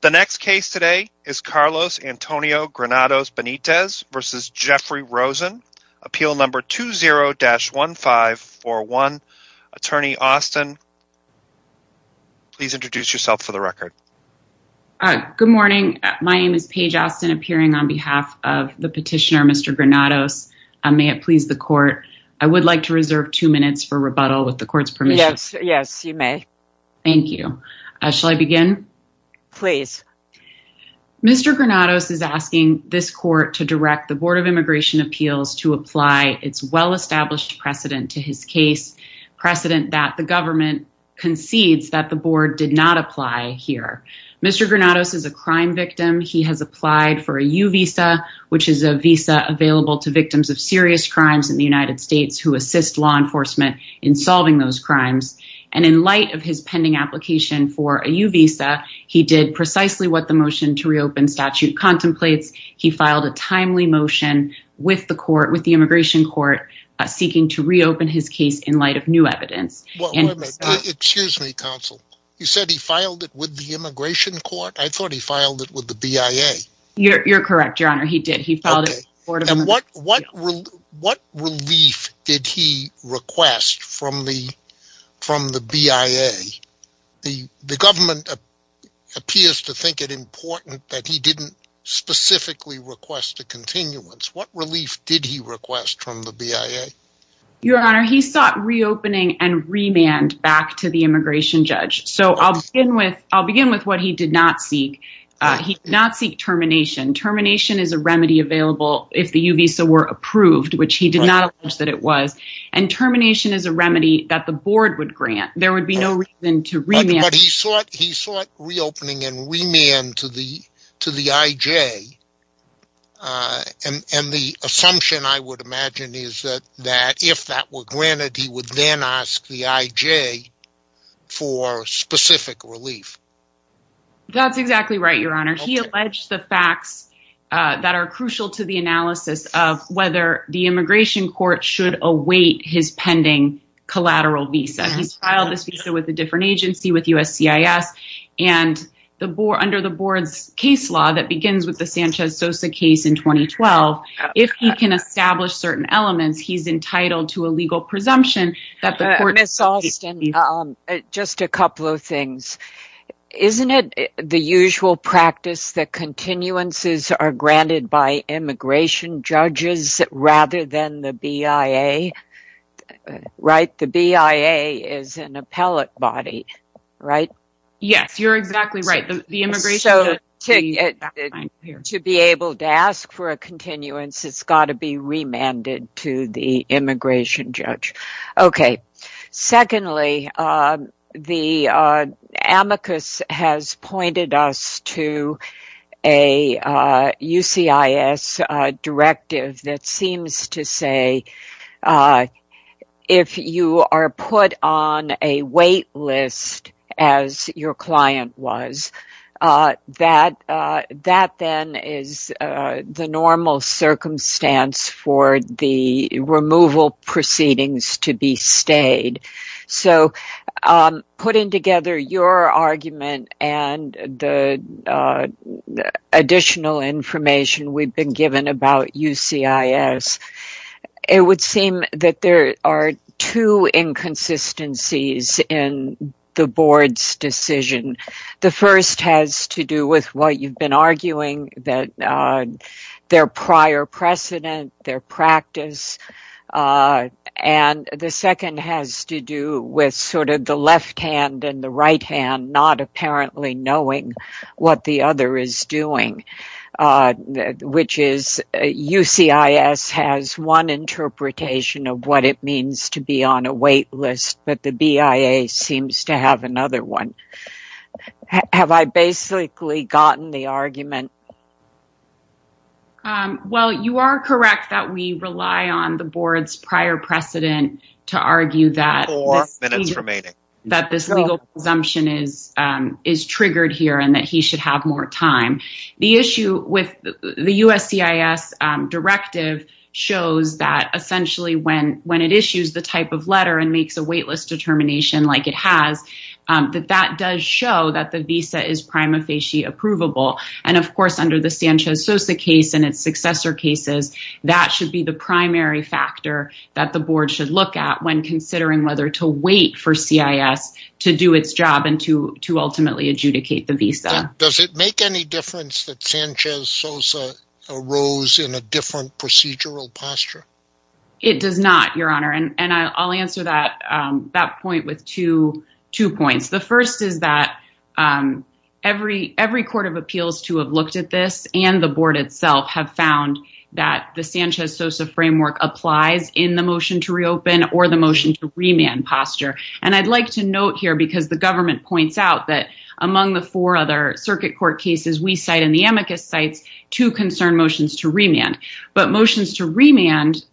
The next case today is Carlos Antonio Granados Benitez versus Jeffrey Rosen, appeal number 20-1541. Attorney Austin, please introduce yourself for the record. Good morning, my name is Paige Austin appearing on behalf of the petitioner Mr. Granados. May it please the court, I would like to reserve two minutes for rebuttal with the court's Thank you. Shall I begin? Please. Mr. Granados is asking this court to direct the Board of Immigration Appeals to apply its well-established precedent to his case precedent that the government concedes that the board did not apply here. Mr. Granados is a crime victim. He has applied for a U visa, which is a visa available to victims of serious crimes in the United States who assist law solving those crimes. And in light of his pending application for a U visa, he did precisely what the motion to reopen statute contemplates. He filed a timely motion with the court with the immigration court, seeking to reopen his case in light of new evidence. Well, excuse me, counsel. You said he filed it with the immigration court. I thought he filed it with the BIA. You're correct, Your Honor. He did. He filed it. What relief did he request from the BIA? The government appears to think it important that he didn't specifically request a continuance. What relief did he request from the BIA? Your Honor, he sought reopening and remand back to the immigration judge. So I'll begin with what he did not seek. He did not seek termination. Termination is a remedy available if the U visa were approved, which he did not allege that it was. And termination is a remedy that the board would grant. There would be no reason to remand. But he sought reopening and remand to the IJ. And the assumption I would imagine is that if that were granted, he would then ask the IJ for specific relief. That's exactly right, Your Honor. He alleged the facts that are crucial to the analysis of whether the immigration court should await his pending collateral visa. He's filed this visa with a different agency, with USCIS. And under the board's case law that begins with the Sanchez-Sosa case in 2012, if he can establish certain elements, he's entitled to just a couple of things. Isn't it the usual practice that continuances are granted by immigration judges rather than the BIA? Right? The BIA is an appellate body, right? Yes, you're exactly right. The immigration... To be able to ask for a continuance, it's got to be remanded to the immigration judge. Okay. Secondly, the amicus has pointed us to a USCIS directive that seems to say if you are put on a wait list, as your client was, that then is the normal circumstance for the removal proceedings to be stayed. So, putting together your argument and the additional information we've been given about USCIS, it would seem that there are two inconsistencies in the board's decision. The first has to do with what you've been arguing, that their prior precedent, their practice. And the second has to do with sort of the left hand and the right hand not apparently knowing what the other is doing, which is USCIS has one interpretation of what it means to be on a wait list, but the BIA seems to have another one. Have I basically gotten the argument? Well, you are correct that we rely on the board's prior precedent to argue that... Four minutes remaining. ...that this legal presumption is triggered here and that he should have more time. The issue with the USCIS directive shows that essentially when it issues the type of letter and makes a wait list determination like it has, that that does show that the visa is prima facie approvable. And of course, under the Sanchez-Sosa case and its successor cases, that should be the primary factor that the board should look at when considering whether to wait for CIS to do its job and to ultimately adjudicate the visa. Does it make any difference that Sanchez-Sosa arose in a different procedural posture? It does not, Your Honor. And I'll answer that point with two points. The first is that every court of appeals to have looked at this and the board itself have found that the Sanchez-Sosa framework applies in the motion to reopen or the motion to remand posture. And I'd like to note here because the government points out that among the four other circuit court cases we cite in the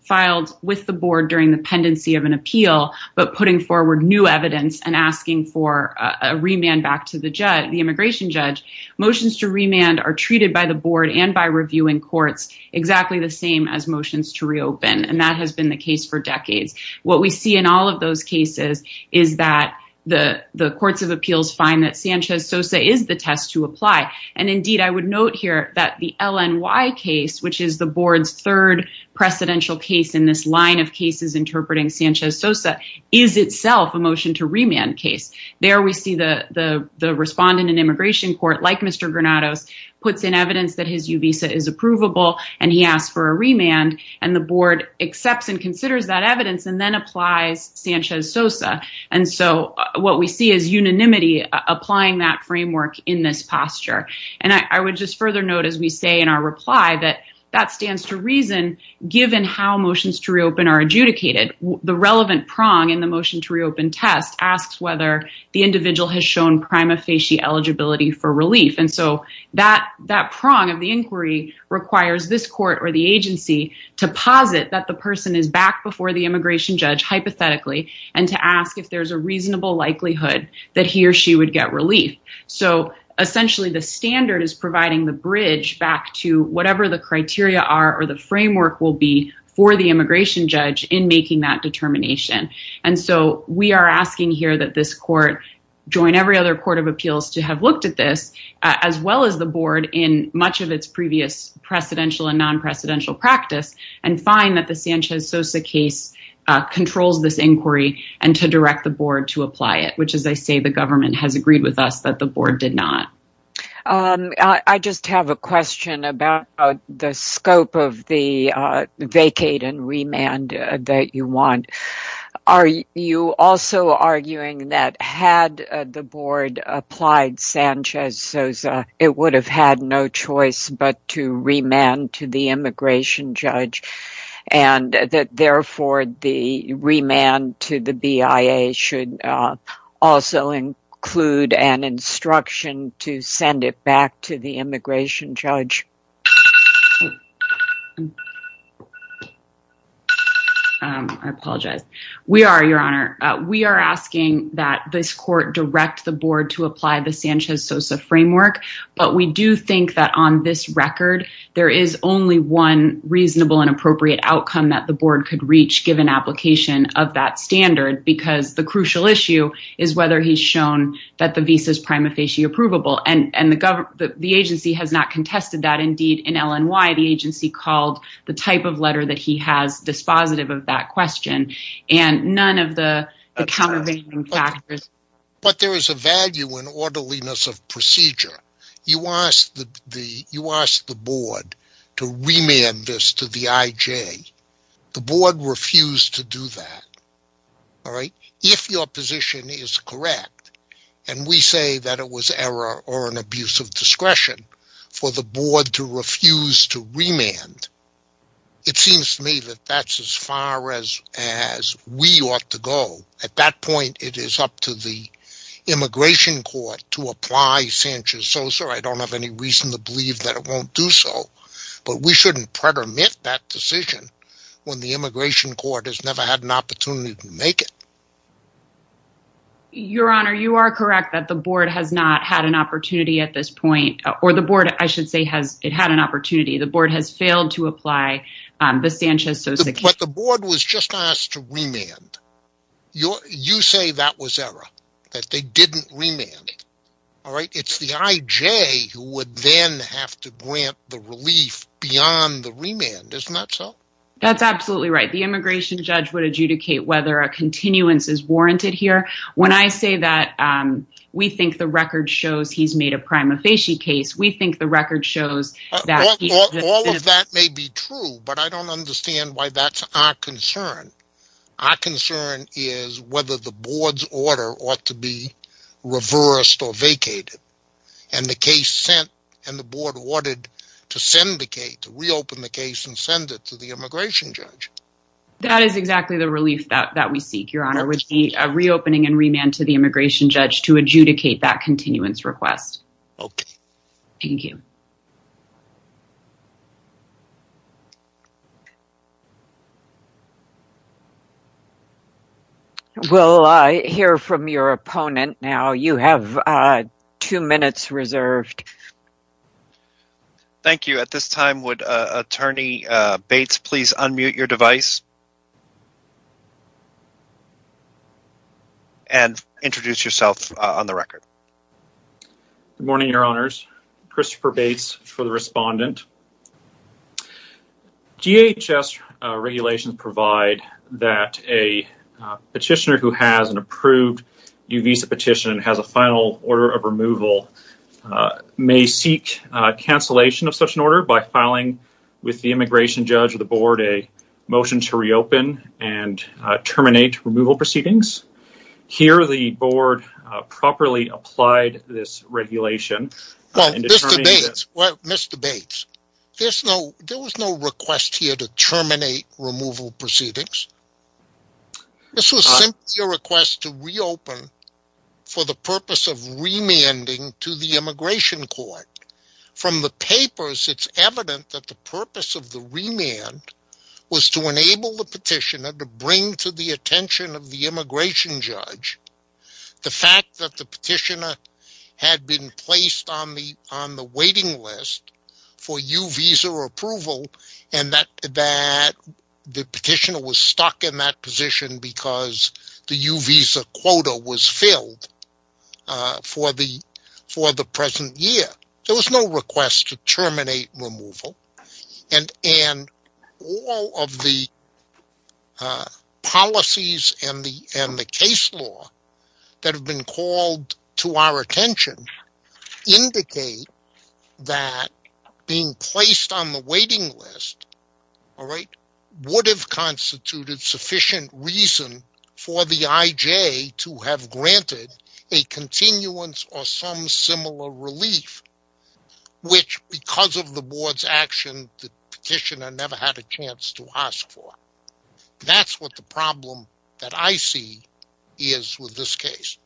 filed with the board during the pendency of an appeal, but putting forward new evidence and asking for a remand back to the immigration judge, motions to remand are treated by the board and by reviewing courts exactly the same as motions to reopen. And that has been the case for decades. What we see in all of those cases is that the courts of appeals find that Sanchez-Sosa is the test to apply. And indeed, I would note here that the LNY case, which is the board's third precedential case in this line of cases interpreting Sanchez-Sosa is itself a motion to remand case. There we see the respondent in immigration court, like Mr. Granados, puts in evidence that his U visa is approvable and he asked for a remand and the board accepts and considers that evidence and then applies Sanchez-Sosa. And so what we see is unanimity applying that framework in this posture. And I would just further note, as we say in our reply, that that stands to reason, given how motions to reopen are adjudicated, the relevant prong in the motion to reopen test asks whether the individual has shown prima facie eligibility for relief. And so that prong of the inquiry requires this court or the agency to posit that the person is back before the immigration judge hypothetically, and to ask if there's a reasonable likelihood that he or she would get relief. So essentially the standard is providing the bridge back to whatever the criteria are or the framework will be for the immigration judge in making that determination. And so we are asking here that this court join every other court of appeals to have looked at this, as well as the board in much of its previous precedential and non-precedential practice, and find that the Sanchez-Sosa case controls this inquiry and to direct the board to apply it, which as I say the government has agreed with us that the board did not. I just have a question about the scope of the vacate and remand that you want. Are you also arguing that had the board applied Sanchez-Sosa, it would have had no choice but to remand to the immigration judge, and that therefore the remand to the BIA should also include an instruction to send it back to the immigration judge? I apologize. We are, Your Honor. We are asking that this court direct the board to apply the Sanchez-Sosa framework, but we do think that on this record there is only one reasonable and appropriate outcome that the board could reach given application of that standard, because the issue is whether he has shown that the visa is prima facie approvable, and the agency has not contested that. Indeed, in LNY, the agency called the type of letter that he has dispositive of that question, and none of the countervailing factors. But there is a value in orderliness of procedure. You asked the board to remand this to the IJ. The board refused to do that, all right? If your position is correct, and we say that it was error or an abuse of discretion for the board to refuse to remand, it seems to me that that's as far as we ought to go. At that point, it is up to the immigration court to apply Sanchez-Sosa. I don't have any reason to believe that it won't do so, but we shouldn't pretermine that decision when the immigration court has never had an opportunity to make it. Your Honor, you are correct that the board has not had an opportunity at this point, or the board, I should say, has it had an opportunity. The board has failed to apply the Sanchez-Sosa. But the board was just asked to remand. You say that was error, that they didn't remand, all right? It's the IJ who would then have to adjudicate whether a continuance is warranted here. When I say that we think the record shows he's made a prima facie case, we think the record shows that... All of that may be true, but I don't understand why that's our concern. Our concern is whether the board's order ought to be reversed or vacated. And the case sent, and the board ordered to reopen the case and send it to the immigration judge. That is exactly the relief that we seek, Your Honor, which is a reopening and remand to the immigration judge to adjudicate that continuance request. Okay. Thank you. We'll hear from your opponent now. You have two minutes reserved. Thank you. At this time, would Attorney Bates please unmute your device and introduce yourself on the record? Good morning, Your Honors. Christopher Bates for the respondent. DHS regulations provide that a petitioner who has an approved new visa petition has a final order of removal may seek cancellation of such an order by filing with the immigration judge or the board a motion to reopen and terminate removal proceedings. Here, the board properly applied this regulation... Well, Mr. Bates, there was no request here to terminate removal proceedings. This was simply a request to reopen for the purpose of remanding to the immigration court. From the papers, it's evident that the purpose of the remand was to enable the petitioner to bring to the attention of the immigration judge the fact that the petitioner had been placed on the waiting list for U-Visa approval and that the petitioner was stuck in that position because the U-Visa quota was filled for the present year. There was no request to terminate removal and all of the policies and the case law that have been called to our attention indicate that being placed on the waiting list would have constituted sufficient reason for the IJ to have granted a continuance or some similar relief which because of the board's action the petitioner never had a chance to ask for. That's what the problem that I see is with this case.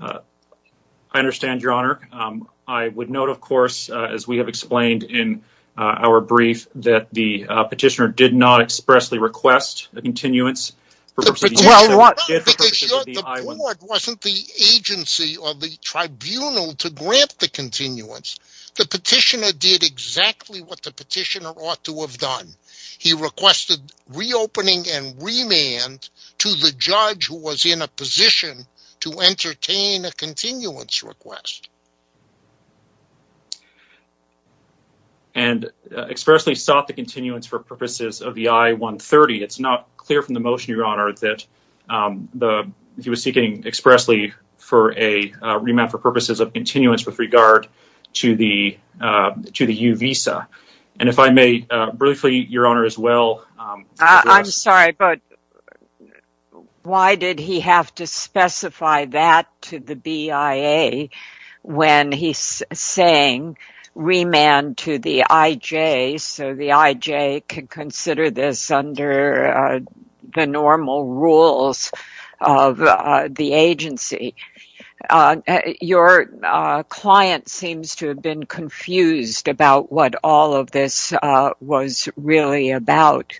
I understand, Your Honor. I would note, of course, as we have explained in our brief, that the petitioner did not expressly request a continuance. Well, the board wasn't the agency or the tribunal to grant the continuance. The petitioner did exactly what the petitioner ought to have done. He requested reopening and remand to the judge who was in a position to entertain a continuance request. And expressly sought the continuance for purposes of the I-130. It's not clear from the motion, Your Honor, that he was seeking expressly for a remand for purposes of continuance with regard to the U visa. And if I may briefly, Your Honor, as well... I'm sorry, but why did he have to specify that to the BIA when he's saying remand to the IJ so the IJ can consider this under the normal rules of the agency? Your client seems to have been confused about what all of this was really about.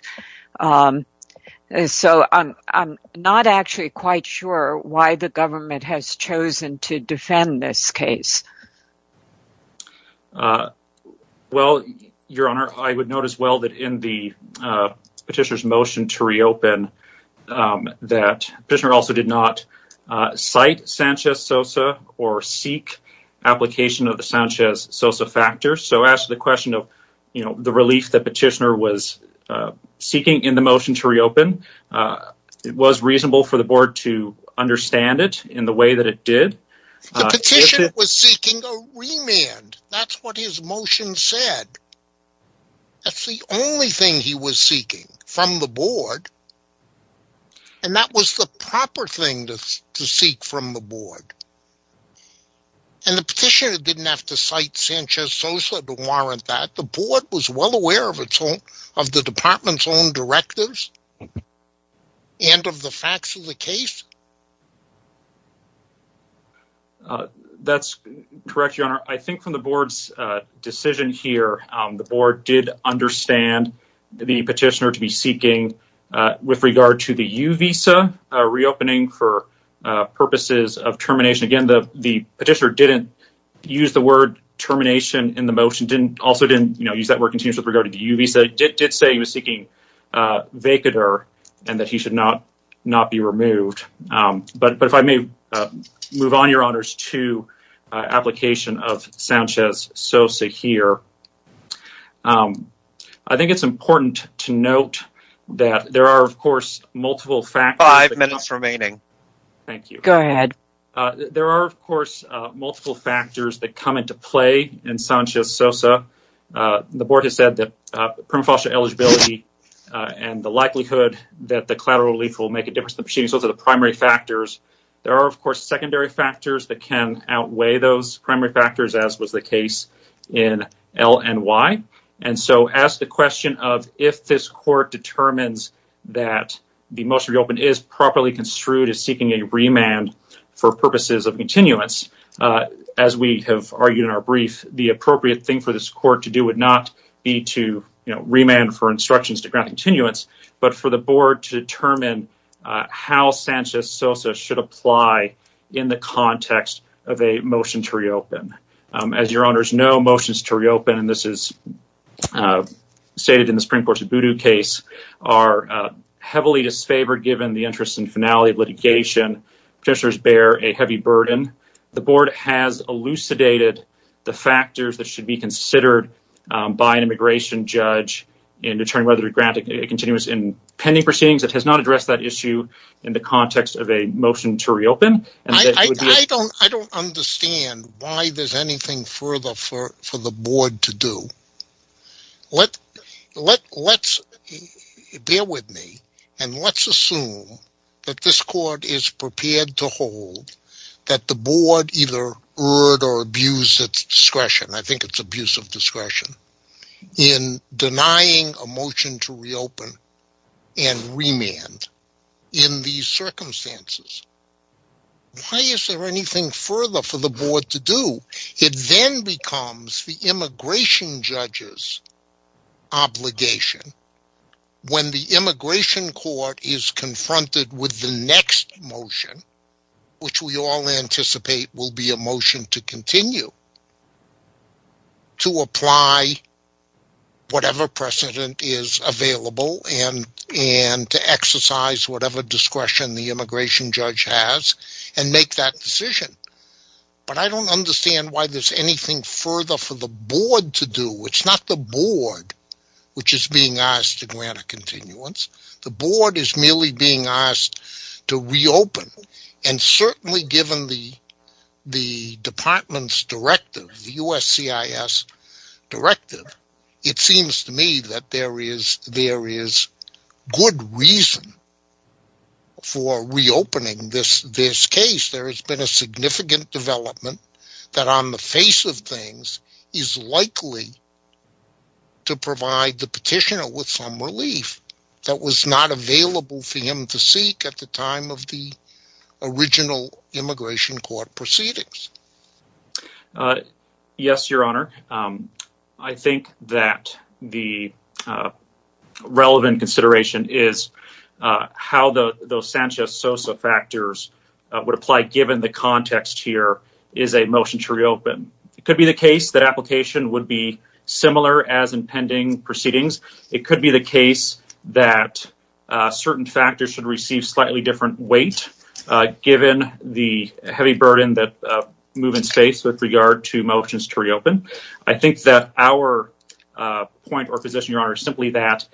So I'm not actually quite sure why the government has chosen to defend this case. Well, Your Honor, I would note as well that in the petitioner's motion to reopen that petitioner also did not cite Sanchez-Sosa or seek application of the Sanchez-Sosa factor. So as to the question of, you know, the relief that petitioner was seeking in the motion to reopen, it was reasonable for the board to understand it in the way that it did. The petitioner was seeking a remand. That's what his motion said. That's the only thing he was seeking from the board. And that was the proper thing to seek from the board. And the petitioner didn't have to cite Sanchez-Sosa to warrant that. The board was well aware of the department's own That's correct, Your Honor. I think from the board's decision here, the board did understand the petitioner to be seeking with regard to the U-Visa reopening for purposes of termination. Again, the petitioner didn't use the word termination in the motion, also didn't, you know, use that word continuous with regard to the U-Visa. It did say he was seeking vacater and that he should not be removed. But if I may move on, Your Honors, to application of Sanchez-Sosa here. I think it's important to note that there are, of course, multiple factors. Five minutes remaining. Thank you. Go ahead. There are, of course, multiple factors that come into play in Sanchez-Sosa. The board has said that and the likelihood that the collateral relief will make a difference. Those are the primary factors. There are, of course, secondary factors that can outweigh those primary factors, as was the case in LNY. And so as the question of if this court determines that the motion to reopen is properly construed as seeking a remand for purposes of continuance, as we have argued in our brief, the appropriate thing for this court to do would not be to, you know, remand for continuance, but for the board to determine how Sanchez-Sosa should apply in the context of a motion to reopen. As Your Honors know, motions to reopen, and this is stated in the Supreme Court's Abudu case, are heavily disfavored given the interest and finality of litigation. Procedures bear a heavy burden. The board has elucidated the factors that should be considered by an immigration judge in determining whether to grant a continuance in pending proceedings. It has not addressed that issue in the context of a motion to reopen. I don't understand why there's anything further for the board to do. Let's, bear with me, and let's assume that this court is prepared to hold that the board either abuse its discretion, I think it's abuse of discretion, in denying a motion to reopen and remand in these circumstances. Why is there anything further for the board to do? It then becomes the immigration judge's obligation when the immigration court is to continue to apply whatever precedent is available and to exercise whatever discretion the immigration judge has and make that decision. But I don't understand why there's anything further for the board to do. It's not the board which is being asked to grant a continuance. The board is merely being asked to reopen and certainly given the department's directive, the USCIS directive, it seems to me that there is good reason for reopening this case. There has been a significant development that on the face of things is likely to provide the petitioner with some relief that was not available for him to seek at the time of the original immigration court proceedings. Yes, your honor. I think that the relevant consideration is how those Sanchez-Sosa factors would apply given the context here is a motion to reopen. It could be the case that pending proceedings, it could be the case that certain factors should receive slightly different weight given the heavy burden that move in space with regard to motions to reopen. I think that our point or position, your honor, is simply that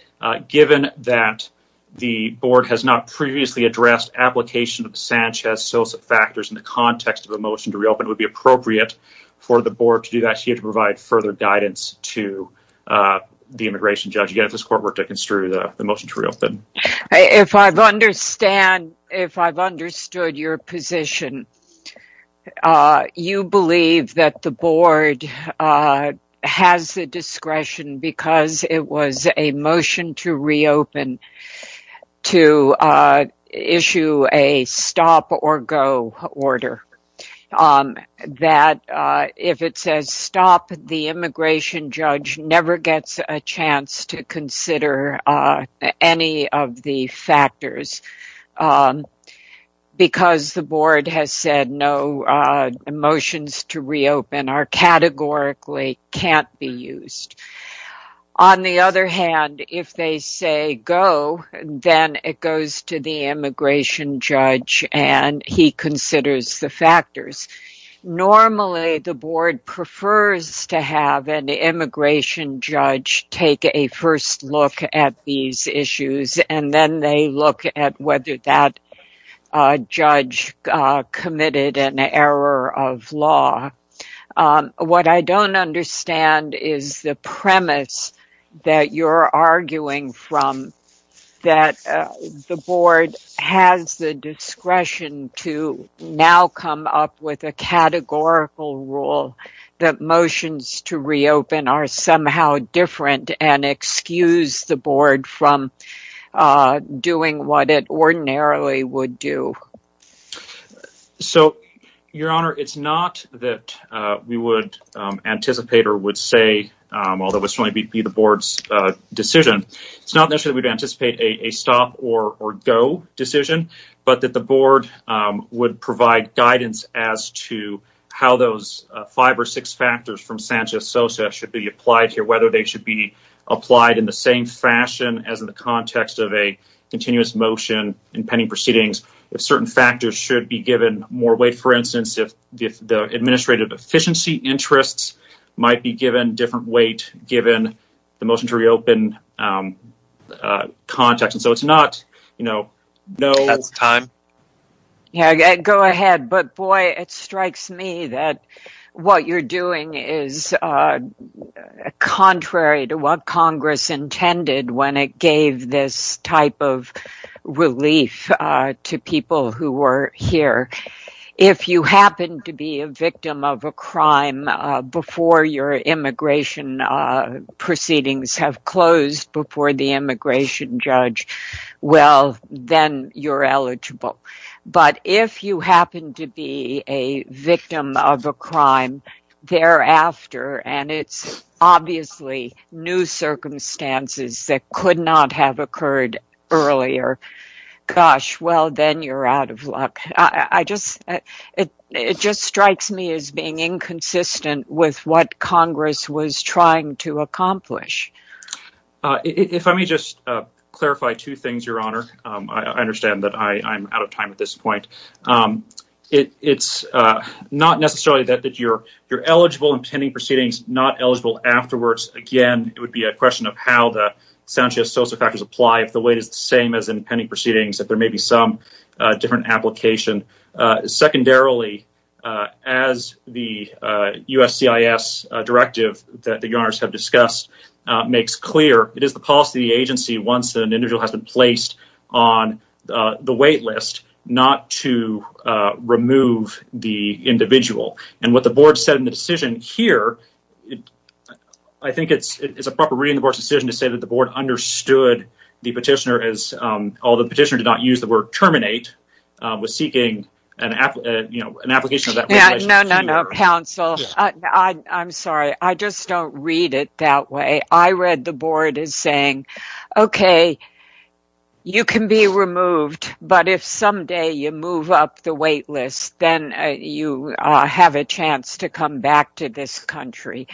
given that the board has not previously addressed application of Sanchez-Sosa factors in the context of a motion to reopen, it would be the immigration judge against this court to construe the motion to reopen. If I've understood your position, you believe that the board has the discretion because it was a motion to reopen to issue a stop or go order. That if it says stop, the immigration judge never gets a chance to consider any of the factors because the board has said no motions to reopen are categorically can't be used. On the other hand, if they say go, then it goes to the immigration judge and he considers the factors. Normally, the board prefers to have an immigration judge take a first look at these issues and then they look at whether that judge committed an error of law. What I don't understand is the premise that you're arguing from that the board has the discretion to now come up with a categorical rule that motions to reopen are somehow different and excuse the board from doing what it ordinarily would do. So, your honor, it's not that we would anticipate or would say, although it's going to be the board's decision, it's not necessarily we'd anticipate a stop or from Sanchez-Sosa should be applied here, whether they should be applied in the same fashion as in the context of a continuous motion in pending proceedings. If certain factors should be given more weight, for instance, if the administrative efficiency interests might be given different weight given the motion to reopen context. And so, it's not, you know, no. That's time. Yeah, go ahead. But boy, it strikes me that what you're doing is contrary to what Congress intended when it gave this type of relief to people who were here. If you happen to be a victim of a crime before your immigration proceedings have closed before the immigration judge, well, then you're eligible. But if you happen to be a victim of a crime thereafter, and it's obviously new circumstances that could not have occurred earlier, gosh, well, then you're out of luck. It just strikes me as being inconsistent with what Congress was trying to accomplish. If I may just clarify two things, Your Honor. I understand that I'm out of time at this point. It's not necessarily that you're eligible in pending proceedings, not eligible afterwards. Again, it would be a question of how the Sanchez-Sosa factors apply if the weight is the same as in pending proceedings, that there may be some different application. Secondarily, as the USCIS directive that Your Honors have discussed makes clear, it is the policy of the agency once an individual has been placed on the wait list not to remove the individual. And what the board said in the decision here, I think it's a proper reading of the board's decision to say that the board understood the petitioner, although the petitioner did not use the word terminate, was seeking an application of that weight. No, no, no, counsel. I'm sorry. I just don't read it that way. I read the board as saying, okay, you can be removed, but if someday you move up the wait list, then you have a chance to come back to this country.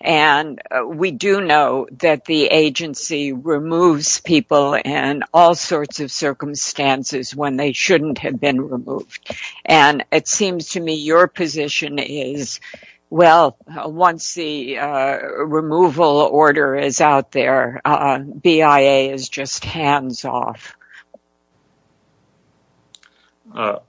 And we do know that the agency removes people in all sorts of circumstances when they shouldn't have been removed. And it seems to me your position is, well, once the removal order is out there, BIA is just hands-off. I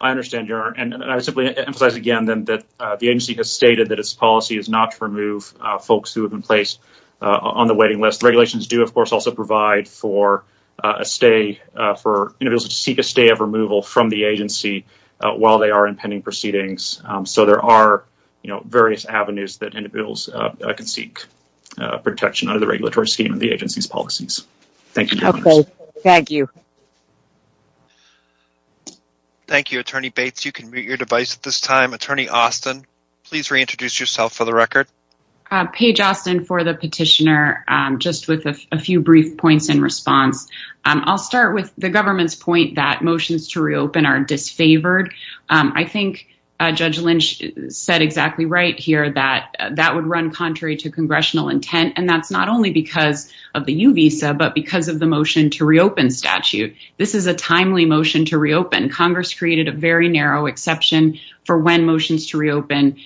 understand, Your Honor. And I simply emphasize again that the agency has stated that its policy is not to remove folks who have been placed on the waiting list. Regulations do, of course, also provide for individuals to seek a stay of removal from the agency while they are in pending proceedings. So there are various avenues that individuals can seek protection under the regulatory scheme and the agency's policies. Thank you, Your Honor. Okay. Thank you. Thank you, Attorney Bates. You can mute your device at this time. Attorney Austin, please reintroduce yourself for the record. Page Austin for the petitioner, just with a few brief points in response. I'll start with the government's point that motions to reopen are disfavored. I think Judge Lynch said exactly right here that that would run contrary to congressional intent. And that's not only because of the U visa, but because of the motion to reopen statute. This is a timely motion to reopen. Congress created a very narrow exception for when motions to reopen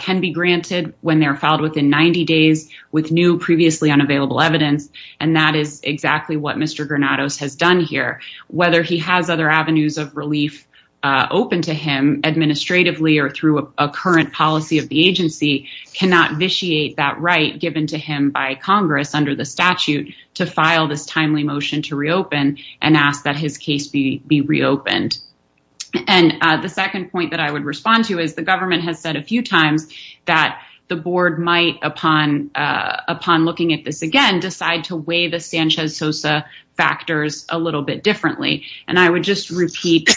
can be granted when they're filed within 90 days with new previously unavailable evidence. And that is exactly what Mr. Granados has done here. Whether he has other avenues of relief open to him administratively or through a current policy of the agency cannot vitiate that right given to him by Congress under the statute to file this timely motion to reopen and ask that his case be reopened. And the second point that I would respond to is the government has said a few times that the board might, upon looking at this again, decide to weigh the Sanchez Sosa factors a little bit differently. And I would just repeat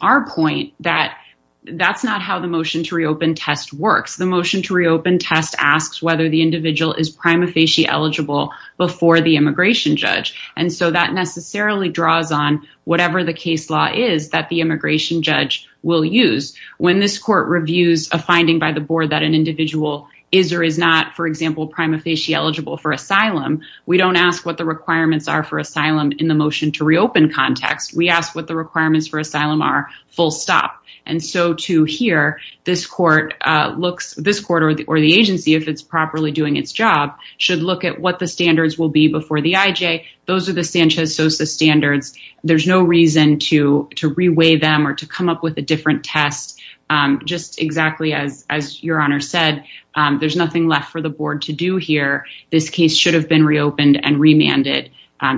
our point that that's not how the motion to reopen test works. The motion to reopen test asks whether the individual is prima facie eligible before the immigration judge. And so that necessarily draws on whatever the case law is that the immigration judge will use when this court reviews a finding by the board that an individual is or is not, for example, prima facie eligible for asylum. We don't ask what the requirements are for asylum in the motion to reopen context. We ask what the requirements for asylum are full stop. And so to hear this court looks this quarter or the agency, if it's doing its job, should look at what the standards will be before the IJ. Those are the Sanchez Sosa standards. There's no reason to to reweigh them or to come up with a different test. Just exactly as your honor said, there's nothing left for the board to do here. This case should have been reopened and remanded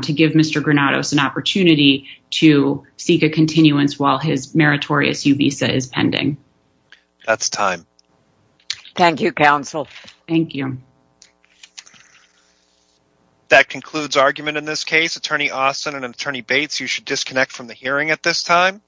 to give Mr. Granados an opportunity to seek a continuance while his meritorious U visa is pending. That's time. Thank you, counsel. Thank you. That concludes argument in this case. Attorney Austin and Attorney Bates, you should disconnect from the hearing at this time.